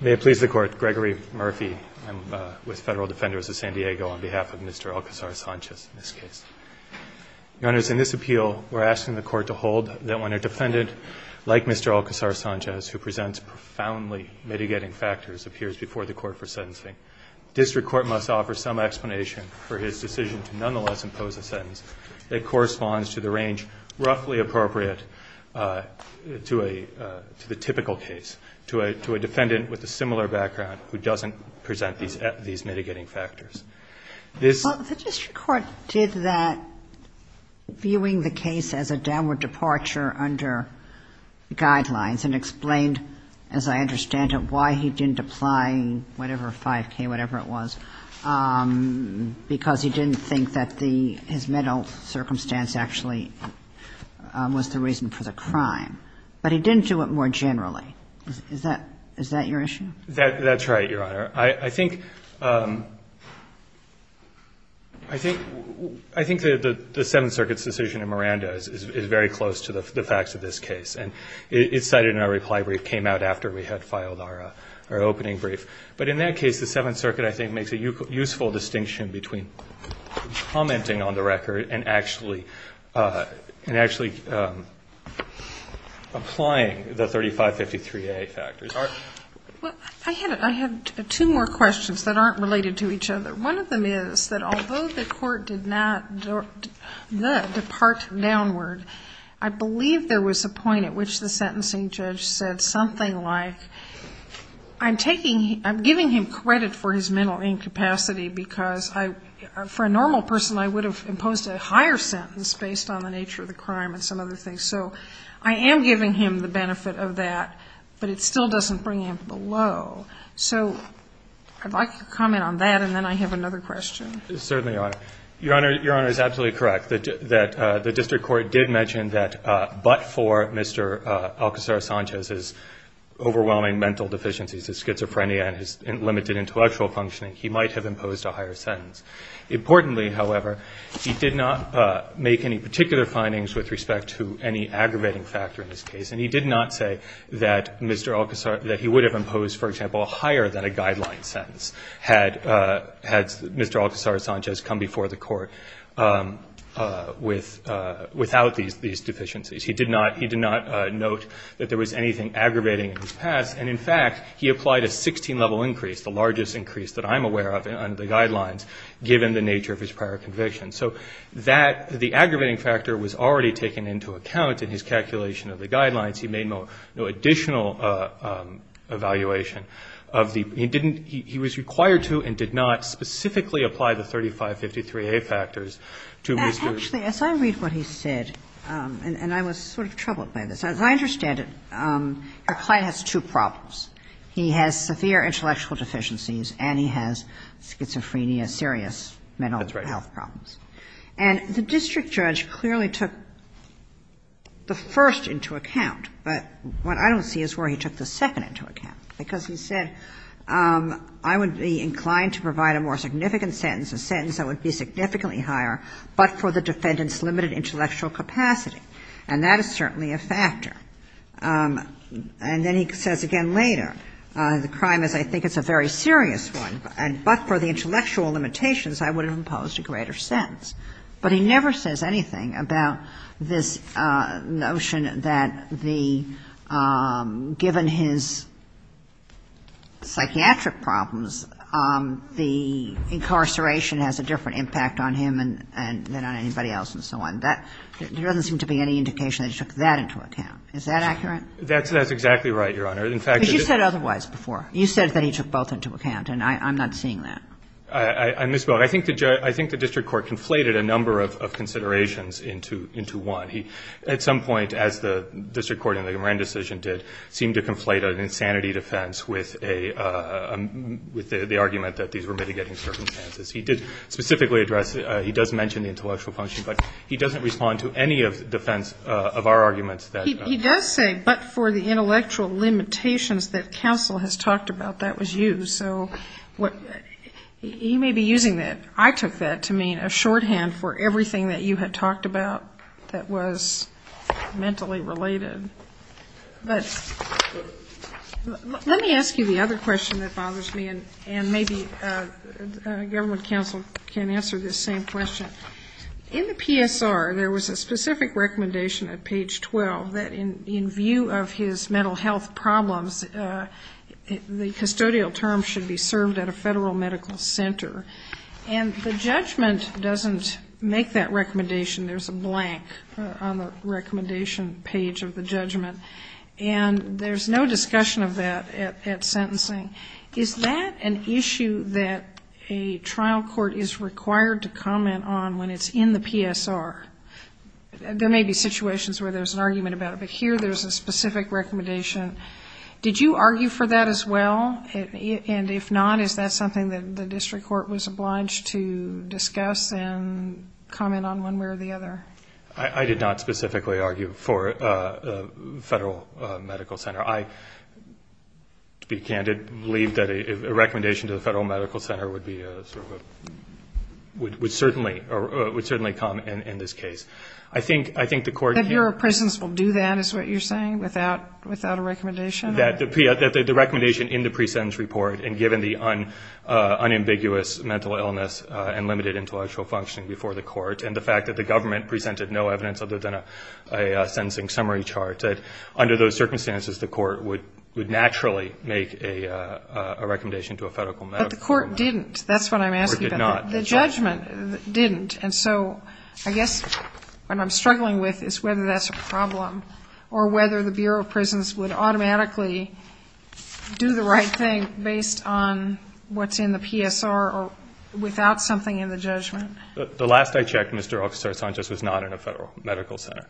May it please the Court, Gregory Murphy. I'm with Federal Defenders of San Diego on behalf of Mr. Alcasar-Sanchez in this case. Your Honors, in this appeal, we're asking the Court to hold that when a defendant like Mr. Alcasar-Sanchez, who presents profoundly mitigating factors, appears before the Court for sentencing, District Court must offer some explanation for his decision to nonetheless impose a sentence that corresponds to the range roughly appropriate to the typical case, to a defendant with a similar background who doesn't present these mitigating factors. This — Well, the District Court did that viewing the case as a downward departure under guidelines and explained, as I understand it, why he didn't apply whatever 5K, whatever it was, because he didn't think that his mental circumstance actually was the reason for the crime. But he didn't do it more generally. Is that your issue? That's right, Your Honor. I think the Seventh Circuit's decision in Miranda is very close to the facts of this case. And it's cited in our reply brief, came out after we had filed our opening brief. But in that case, the Seventh Circuit, I think, makes a useful distinction between commenting on the record and actually applying the 3553A factors. Well, I have two more questions that aren't related to each other. One of them is that although the Court did not depart downward, I believe there was a point at which the sentencing judge said something like, I'm giving him credit for his mental incapacity because for a normal person, I would have imposed a higher sentence based on the nature of the crime and some other things. So I am giving him the benefit of that, but it still doesn't bring him below. So I'd like to comment on that, and then I have another question. Certainly, Your Honor. Your Honor is absolutely correct that the district court did mention that, but for Mr. Alcazar-Sanchez's overwhelming mental deficiencies, his schizophrenia, and his limited intellectual functioning, he might have imposed a higher sentence. Importantly, however, he did not make any particular findings with respect to any aggravating factor in this case, and he did not say that Mr. Alcazar, that he would have imposed, for example, a higher than a guideline sentence had Mr. Alcazar-Sanchez come before the Court without these deficiencies. He did not note that there was anything aggravating in his past, and in fact, he applied a 16-level increase, the largest increase that I'm aware of under the guidelines, given the nature of his prior convictions. So the aggravating factor was already taken into account in his calculation of the guidelines. He made no additional evaluation. He was required to and did not specifically apply the 3553A factors to Mr. Alcazar-Sanchez. Actually, as I read what he said, and I was sort of troubled by this. As I understand it, your client has two problems. He has severe intellectual deficiencies and he has schizophrenia, serious mental health problems. That's right. And the district judge clearly took the first into account, but what I don't see is where he took the second into account, because he said I would be inclined to provide a more significant sentence, a sentence that would be significantly higher, but for the defendant's limited intellectual capacity. And that is certainly a factor. And then he says again later, the crime is I think it's a very serious one, but for the intellectual limitations, I would have imposed a greater sentence. But he never says anything about this notion that the, given his psychiatric problems, the incarceration has a different impact on him than on anybody else and so on. There doesn't seem to be any indication that he took that into account. Is that accurate? That's exactly right, Your Honor. But you said otherwise before. You said that he took both into account, and I'm not seeing that. I misspoke. But I think the district court conflated a number of considerations into one. At some point, as the district court in the Marin decision did, seemed to conflate an insanity defense with the argument that these were mitigating circumstances. He did specifically address it. He does mention the intellectual function, but he doesn't respond to any defense of our arguments. He does say, but for the intellectual limitations that counsel has talked about, that was used. So you may be using that, I took that to mean a shorthand for everything that you had talked about that was mentally related. But let me ask you the other question that bothers me, and maybe government counsel can answer this same question. In the PSR, there was a specific recommendation at page 12 that in view of his federal medical center, and the judgment doesn't make that recommendation. There's a blank on the recommendation page of the judgment. And there's no discussion of that at sentencing. Is that an issue that a trial court is required to comment on when it's in the PSR? There may be situations where there's an argument about it. But here there's a specific recommendation. Did you argue for that as well? And if not, is that something that the district court was obliged to discuss and comment on one way or the other? I did not specifically argue for the federal medical center. I, to be candid, believe that a recommendation to the federal medical center would certainly come in this case. The Bureau of Prisons will do that, is what you're saying, without a recommendation? That the recommendation in the pre-sentence report, and given the unambiguous mental illness and limited intellectual functioning before the court, and the fact that the government presented no evidence other than a sentencing summary chart, that under those circumstances, the court would naturally make a recommendation to a federal medical center. But the court didn't. That's what I'm asking about. The court did not. The judgment didn't. And so I guess what I'm struggling with is whether that's a problem, or whether the Bureau of Prisons would automatically do the right thing based on what's in the PSR or without something in the judgment. The last I checked, Mr. Officer Sanchez was not in a federal medical center.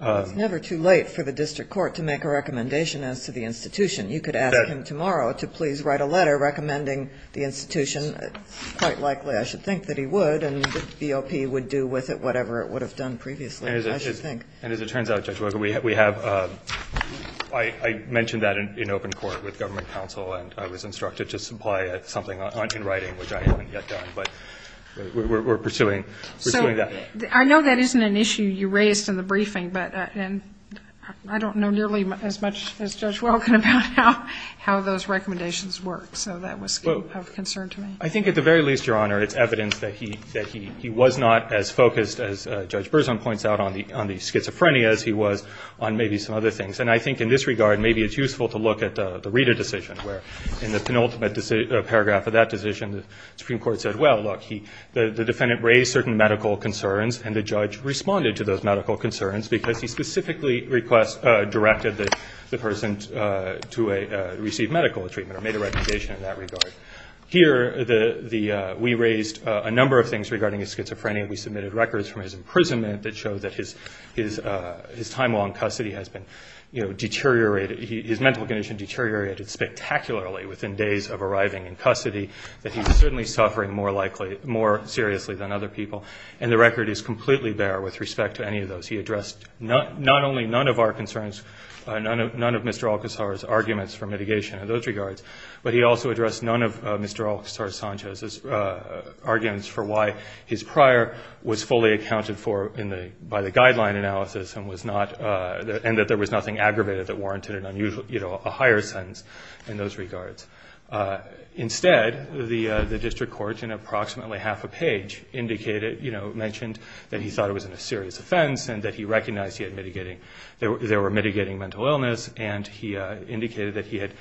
It's never too late for the district court to make a recommendation as to the institution. You could ask him tomorrow to please write a letter recommending the institution. Quite likely I should think that he would, and the BOP would do with it whatever it would have done previously, I should think. And as it turns out, Judge Welken, we have – I mentioned that in open court with government counsel, and I was instructed to supply something in writing, which I haven't yet done. But we're pursuing that. So I know that isn't an issue you raised in the briefing, but I don't know nearly as much as Judge Welken about how those recommendations work. I think at the very least, Your Honor, it's evidence that he was not as focused, as Judge Berzon points out, on the schizophrenia as he was on maybe some other things. And I think in this regard, maybe it's useful to look at the Rita decision, where in the penultimate paragraph of that decision, the Supreme Court said, well, look, the defendant raised certain medical concerns and the judge responded to those medical concerns because he specifically directed the person to receive medical treatment or made a recommendation in that regard. Here, we raised a number of things regarding his schizophrenia. We submitted records from his imprisonment that show that his time on custody has been deteriorated. His mental condition deteriorated spectacularly within days of arriving in custody, that he's certainly suffering more seriously than other people. And the record is completely bare with respect to any of those. He addressed not only none of our concerns, none of Mr. Alcazar's arguments for mitigation in those regards, but he also addressed none of Mr. Alcazar-Sanchez's arguments for why his prior was fully accounted for by the guideline analysis and that there was nothing aggravated that warranted a higher sentence in those regards. Instead, the district court, in approximately half a page, mentioned that he thought it was a serious offense and that he recognized there were mitigating mental illness, and he indicated that he had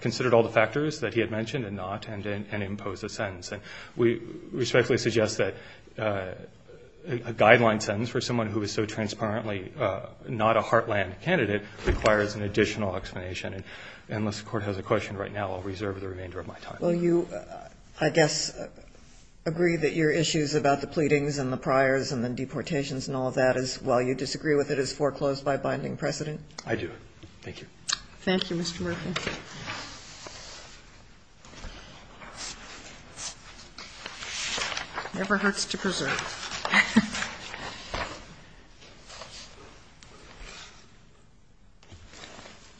considered all the factors that he had mentioned and not and imposed a sentence. And we respectfully suggest that a guideline sentence for someone who is so transparently not a heartland candidate requires an additional explanation. And unless the Court has a question right now, I'll reserve the remainder of my time. Kagan. Well, you, I guess, agree that your issues about the pleadings and the priors and the deportations and all of that is, while you disagree with it, is foreclosed by binding precedent? I do. Thank you. Thank you, Mr. Murphy. Never hurts to preserve.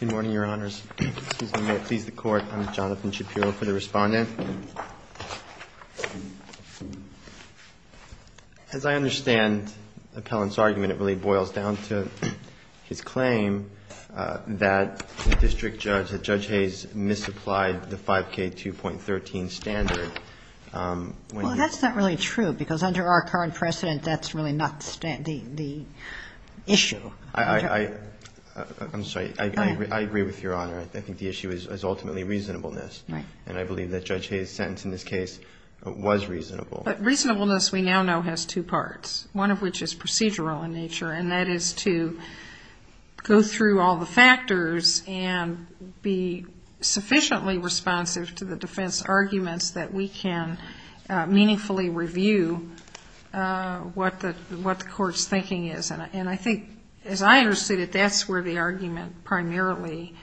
Good morning, Your Honors. Excuse me. May it please the Court. I'm Jonathan Shapiro for the Respondent. As I understand Appellant's argument, it really boils down to his claim that the district judge, that Judge Hayes, misapplied the 5K2.13 standard. Well, that's not really true, because under our current precedent, that's really not the issue. I'm sorry. I agree with Your Honor. I think the issue is ultimately reasonableness. Right. And I believe that Judge Hayes' sentence in this case was reasonable. But reasonableness we now know has two parts, one of which is procedural in nature, and that is to go through all the factors and be sufficiently responsive to the defense arguments that we can meaningfully review what the Court's thinking is. And I think, as I understood it, that that's where the argument primarily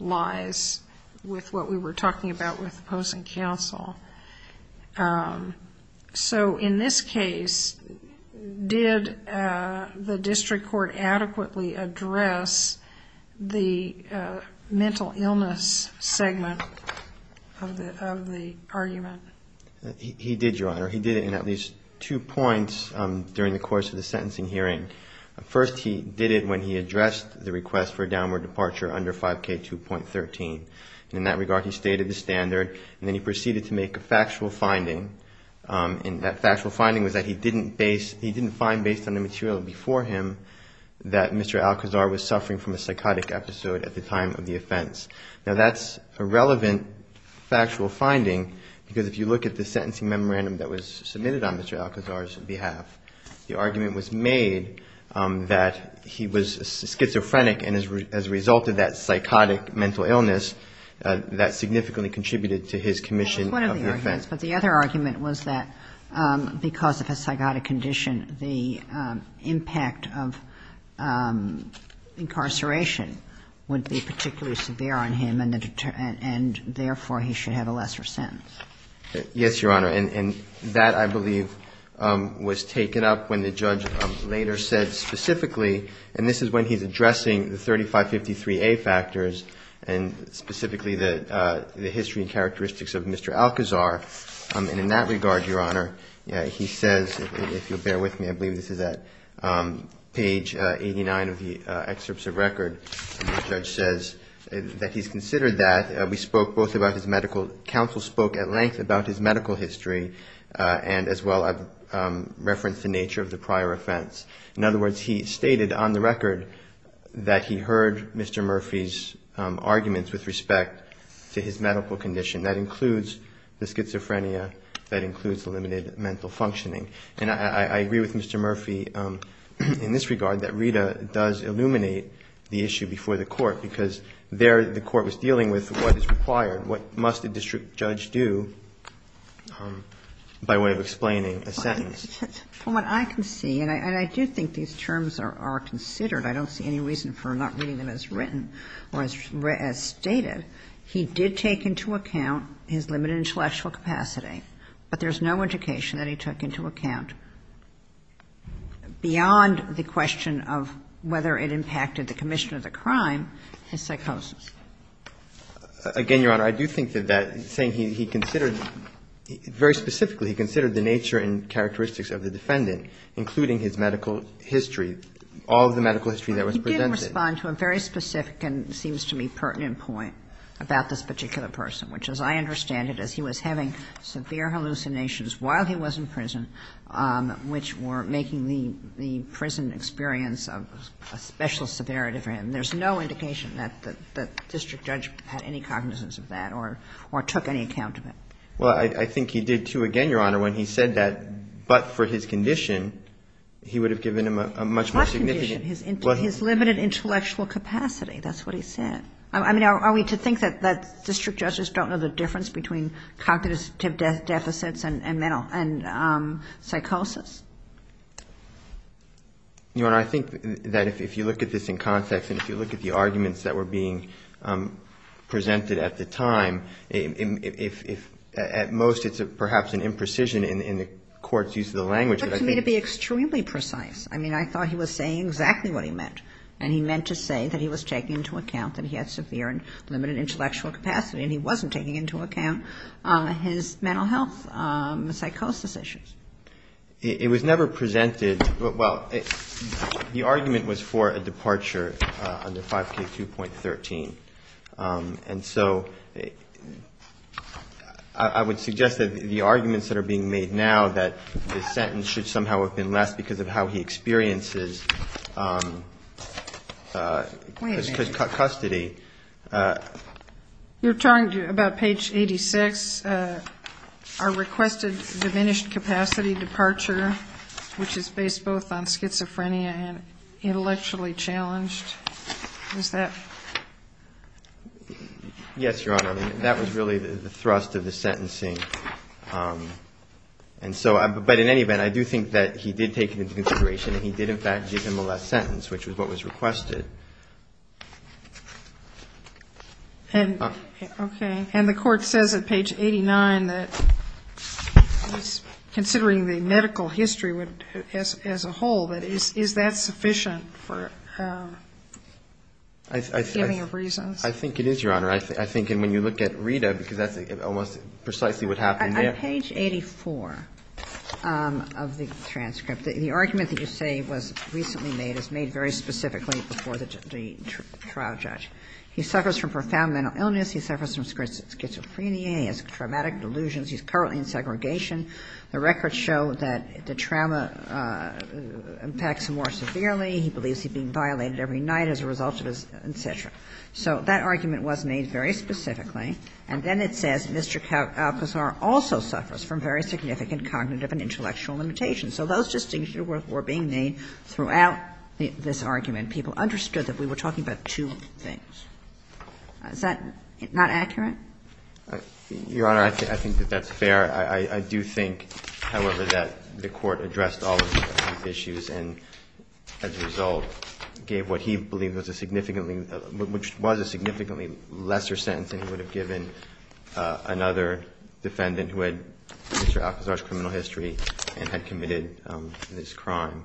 lies with what we were talking about with opposing counsel. So in this case, did the district court adequately address the mental illness segment of the argument? He did, Your Honor. He did it in at least two points during the course of the sentencing hearing. First, he did it when he addressed the request for a downward departure under 5K2.13. In that regard, he stated the standard, and then he proceeded to make a factual finding, and that factual finding was that he didn't find, based on the material before him, that Mr. Alcazar was suffering from a psychotic episode at the time of the offense. Now, that's a relevant factual finding, because if you look at the sentencing memorandum that was submitted on Mr. you can see that he was schizophrenic, and as a result of that psychotic mental illness, that significantly contributed to his commission of the offense. Well, that's one of the arguments, but the other argument was that because of his psychotic condition, the impact of incarceration would be particularly severe on him, and therefore he should have a lesser sentence. Yes, Your Honor. And that, I believe, was taken up when the judge later said specifically, and this is when he's addressing the 3553A factors, and specifically the history and characteristics of Mr. Alcazar, and in that regard, Your Honor, he says, if you'll bear with me, I believe this is at page 89 of the excerpts of record, the judge says that he's considered that. Counsel spoke at length about his medical history, and as well I've referenced the nature of the prior offense. In other words, he stated on the record that he heard Mr. Murphy's arguments with respect to his medical condition. That includes the schizophrenia. That includes eliminated mental functioning. And I agree with Mr. Murphy in this regard, that Rita does illuminate the issue before the court, because there the court was dealing with what is required, what must a district judge do by way of explaining a sentence. For what I can see, and I do think these terms are considered, I don't see any reason for not reading them as written or as stated, he did take into account his limited intellectual capacity, but there's no indication that he took into account, beyond the question of whether it impacted the commission of the crime, his psychosis. Again, Your Honor, I do think that that saying he considered, very specifically he considered the nature and characteristics of the defendant, including his medical history, all of the medical history that was presented. He did respond to a very specific and seems to me pertinent point about this particular person, which as I understand it, is he was having severe hallucinations while he was in prison, which were making the prison experience a special severity for him. And there's no indication that the district judge had any cognizance of that or took any account of it. Well, I think he did, too, again, Your Honor, when he said that, but for his condition, he would have given him a much more significant. His limited intellectual capacity, that's what he said. I mean, are we to think that district judges don't know the difference between cognitive deficits and psychosis? Your Honor, I think that if you look at this in context and if you look at the arguments that were being presented at the time, at most it's perhaps an imprecision in the court's use of the language. But to me it would be extremely precise. I mean, I thought he was saying exactly what he meant, and he meant to say that he was taking into account that he had severe and limited intellectual capacity, and he wasn't taking into account his mental health, psychosis issues. It was never presented, well, the argument was for a departure under 5K2.13. And so I would suggest that the arguments that are being made now, that the sentence should somehow have been less because of how he experiences custody. You're talking about page 86, our requested diminished capacity departure, which is based both on schizophrenia and intellectually challenged. Is that? Yes, Your Honor. That was really the thrust of the sentencing. But in any event, I do think that he did take into consideration that he did in fact give him the last sentence, which was what was requested. Okay. And the court says at page 89 that considering the medical history as a whole, that is that sufficient for any of reasons? I think it is, Your Honor. I think when you look at Rita, because that's almost precisely what happened there. Page 84 of the transcript, the argument that you say was recently made is made very specifically before the trial judge. He suffers from profound mental illness. He suffers from schizophrenia. He has traumatic delusions. He's currently in segregation. The records show that the trauma impacts him more severely. He believes he's being violated every night as a result of his, et cetera. So that argument was made very specifically. And then it says Mr. Alcazar also suffers from very significant cognitive and intellectual limitations. So those distinctions were being made throughout this argument. People understood that we were talking about two things. Is that not accurate? Your Honor, I think that that's fair. I do think, however, that the Court addressed all of these issues and, as a result, gave what he believed was a significantly lesser sentence than he would have given another defendant who had Mr. Alcazar's criminal history and had committed this crime.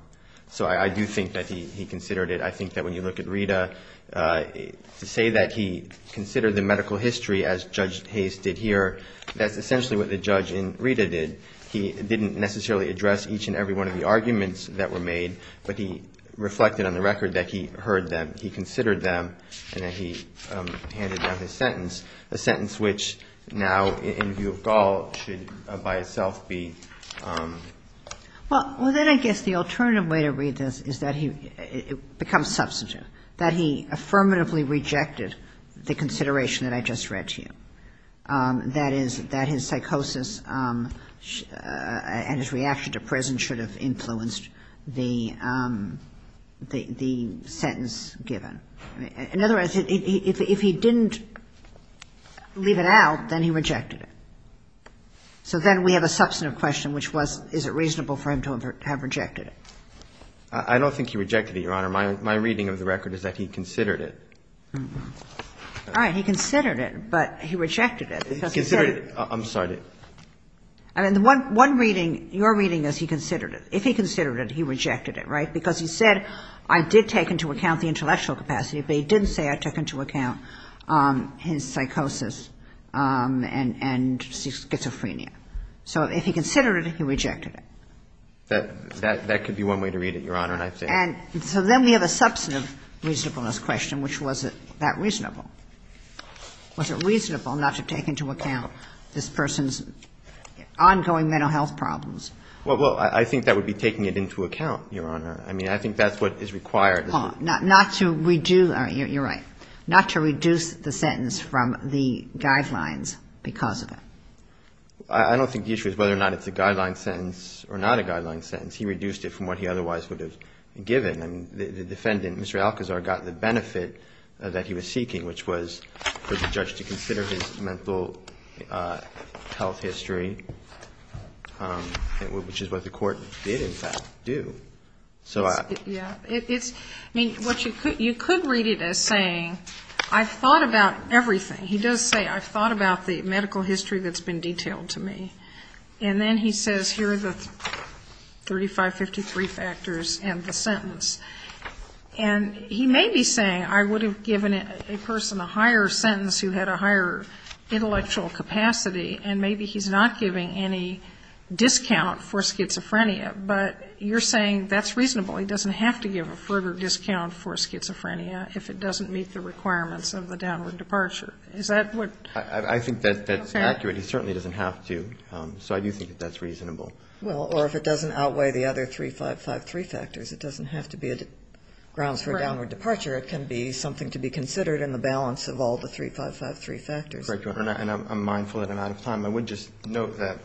So I do think that he considered it. I think that when you look at Rita, to say that he considered the medical history, as Judge Hayes did here, that's essentially what the judge in Rita did. He didn't necessarily address each and every one of the arguments that were made, but he reflected on the record that he heard them, he considered them, and then he handed down his sentence, a sentence which now, in view of Gaul, should by itself be... Well, then I guess the alternative way to read this is that it becomes substantive, that he affirmatively rejected the consideration that I just read to you, that is, that his psychosis and his reaction to prison should have influenced the sentence given. In other words, if he didn't leave it out, then he rejected it. So then we have a substantive question, which was, is it reasonable for him to have rejected it? I don't think he rejected it, Your Honor. My reading of the record is that he considered it. All right. He considered it, but he rejected it. He considered it. I'm sorry. I mean, the one reading, your reading is he considered it. If he considered it, he rejected it, right? Because he said, I did take into account the intellectual capacity, but he didn't say I took into account his psychosis and schizophrenia. So if he considered it, he rejected it. That could be one way to read it, Your Honor. And so then we have a substantive reasonableness question, which was, is it that reasonable? Was it reasonable not to take into account this person's ongoing mental health problems? Well, I think that would be taking it into account, Your Honor. I mean, I think that's what is required. Paul, not to reduce the sentence from the guidelines because of it. I don't think the issue is whether or not it's a guideline sentence or not a guideline sentence. He reduced it from what he otherwise would have given. I mean, the defendant, Mr. Alcazar, got the benefit that he was seeking, which was for the judge to consider his mental health history. Which is what the court did, in fact, do. Yeah. I mean, you could read it as saying, I've thought about everything. He does say, I've thought about the medical history that's been detailed to me. And then he says, here are the 3553 factors and the sentence. And he may be saying, I would have given a person a higher sentence who had a higher intellectual capacity. And maybe he's not giving any discount for schizophrenia. But you're saying that's reasonable. He doesn't have to give a further discount for schizophrenia if it doesn't meet the requirements of the downward departure. Is that what? I think that's accurate. He certainly doesn't have to. So I do think that that's reasonable. Well, or if it doesn't outweigh the other 3553 factors. It doesn't have to be grounds for a downward departure. Correct, Your Honor. And I'm mindful that I'm out of time. I would just note that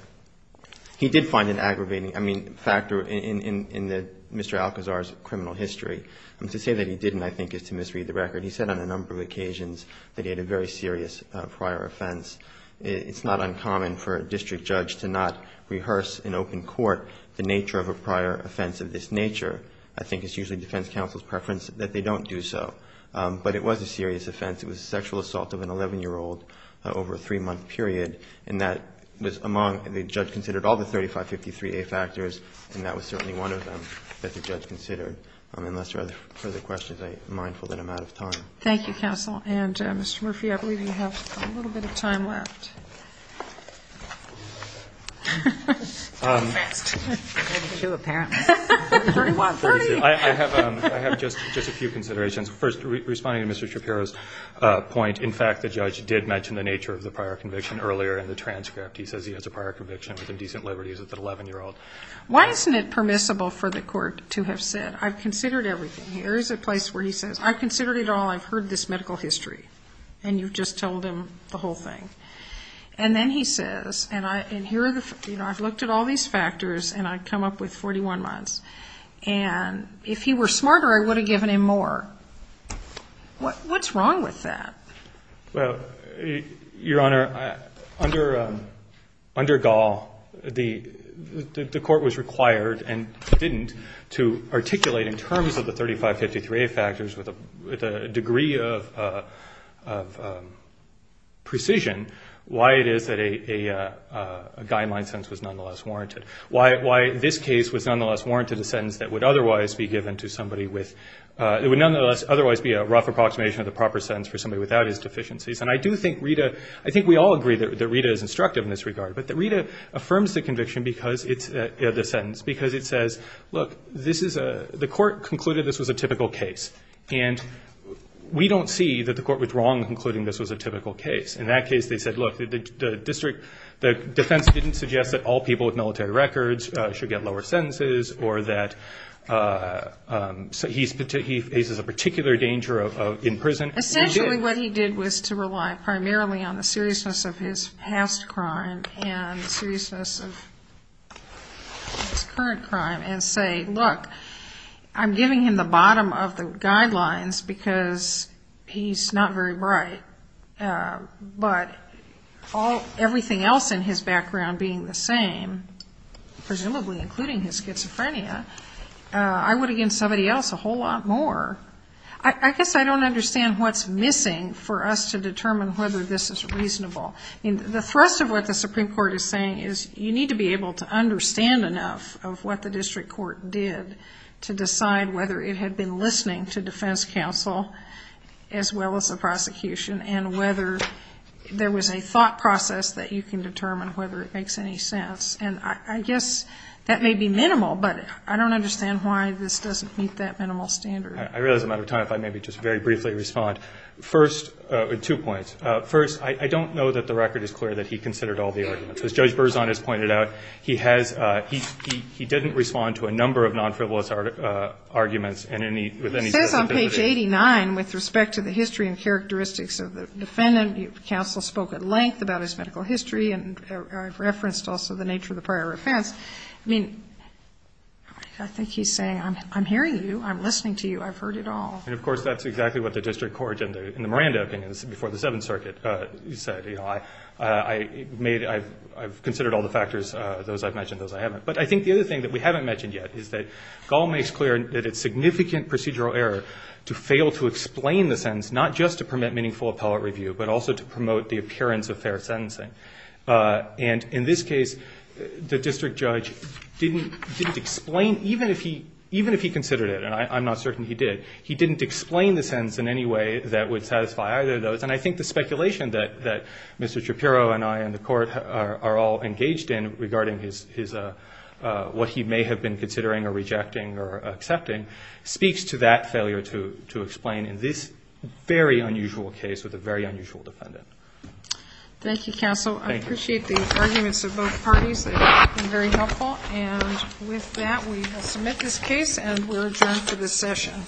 he did find an aggravating factor in Mr. Alcazar's criminal history. To say that he didn't, I think, is to misread the record. He said on a number of occasions that he had a very serious prior offense. It's not uncommon for a district judge to not rehearse in open court the nature of a prior offense of this nature. I think it's usually defense counsel's preference that they don't do so. But it was a serious offense. It was a sexual assault of an 11-year-old over a three-month period. And that was among, the judge considered all the 3553A factors, and that was certainly one of them that the judge considered. Unless there are further questions, I'm mindful that I'm out of time. Thank you, counsel. And, Mr. Murphy, I believe you have a little bit of time left. I have just a few considerations. First, responding to Mr. Shapiro's point, in fact, the judge did mention the nature of the prior conviction earlier in the transcript. He says he has a prior conviction with indecent liberties with an 11-year-old. Why isn't it permissible for the court to have said, I've considered everything? Here is a place where he says, I've considered it all. I've heard this medical history. And you've just told him the whole thing. And then he says, and I've looked at all these factors, and I've come up with 41 months. And if he were smarter, I would have given him more. What's wrong with that? Well, Your Honor, under Gall, the court was required and didn't to articulate in terms of the 3553A factors with a degree of precision why it is that a guide-in-mind sentence was nonetheless warranted. Why this case was nonetheless warranted a sentence that would otherwise be given to somebody with, it would nonetheless be a rough approximation of the proper sentence for somebody without his deficiencies. And I do think Rita, I think we all agree that Rita is instructive in this regard. But Rita affirms the conviction because it's, the sentence, because it says, look, this is a, the court concluded this was a typical case. And we don't see that the court was wrong in concluding this was a typical case. In that case, they said, look, the district, the defense didn't suggest that all people with military records should get lower sentences or that he faces a particular danger in prison. Essentially what he did was to rely primarily on the seriousness of his past crime and seriousness of his current crime and say, look, I'm giving him the bottom of the guidelines because he's not very bright. But everything else in his background being the same, presumably including his schizophrenia, I would against somebody else a whole lot more. I guess I don't understand what's missing for us to determine whether this is reasonable. The thrust of what the Supreme Court is saying is you need to be able to understand enough of what the district court did to decide whether it had been listening to defense counsel as well as the prosecution and whether there was a thought process that you can determine whether it makes any sense. And I guess that may be minimal, but I don't understand why this doesn't meet that minimal standard. I realize I'm out of time. If I may just very briefly respond. First, two points. First, I don't know that the record is clear that he considered all the arguments. As Judge Berzon has pointed out, he has he didn't respond to a number of non-frivolous arguments in any He says on page 89 with respect to the history and characteristics of the defendant, counsel spoke at length about his medical history and referenced also the nature of the prior offense. I mean, I think he's saying I'm hearing you. I'm listening to you. I've heard it all. And, of course, that's exactly what the district court in the Miranda opinion before the Seventh Circuit said. I've considered all the factors, those I've mentioned, those I haven't. But I think the other thing that we haven't mentioned yet is that Gall makes clear that it's significant procedural error to fail to explain the sentence, not just to permit meaningful appellate review, but also to promote the appearance of fair sentencing. And in this case, the district judge didn't explain, even if he considered it, and I'm not certain he did, he didn't explain the sentence in any way that would satisfy either of those. And I think the speculation that Mr. Shapiro and I and the court are all engaged in regarding his what he may have been considering or rejecting or accepting speaks to that failure to explain in this very unusual case with a very unusual defendant. Thank you, counsel. I appreciate the arguments of both parties. They've been very helpful. And with that, we will submit this case and we're adjourned for this session.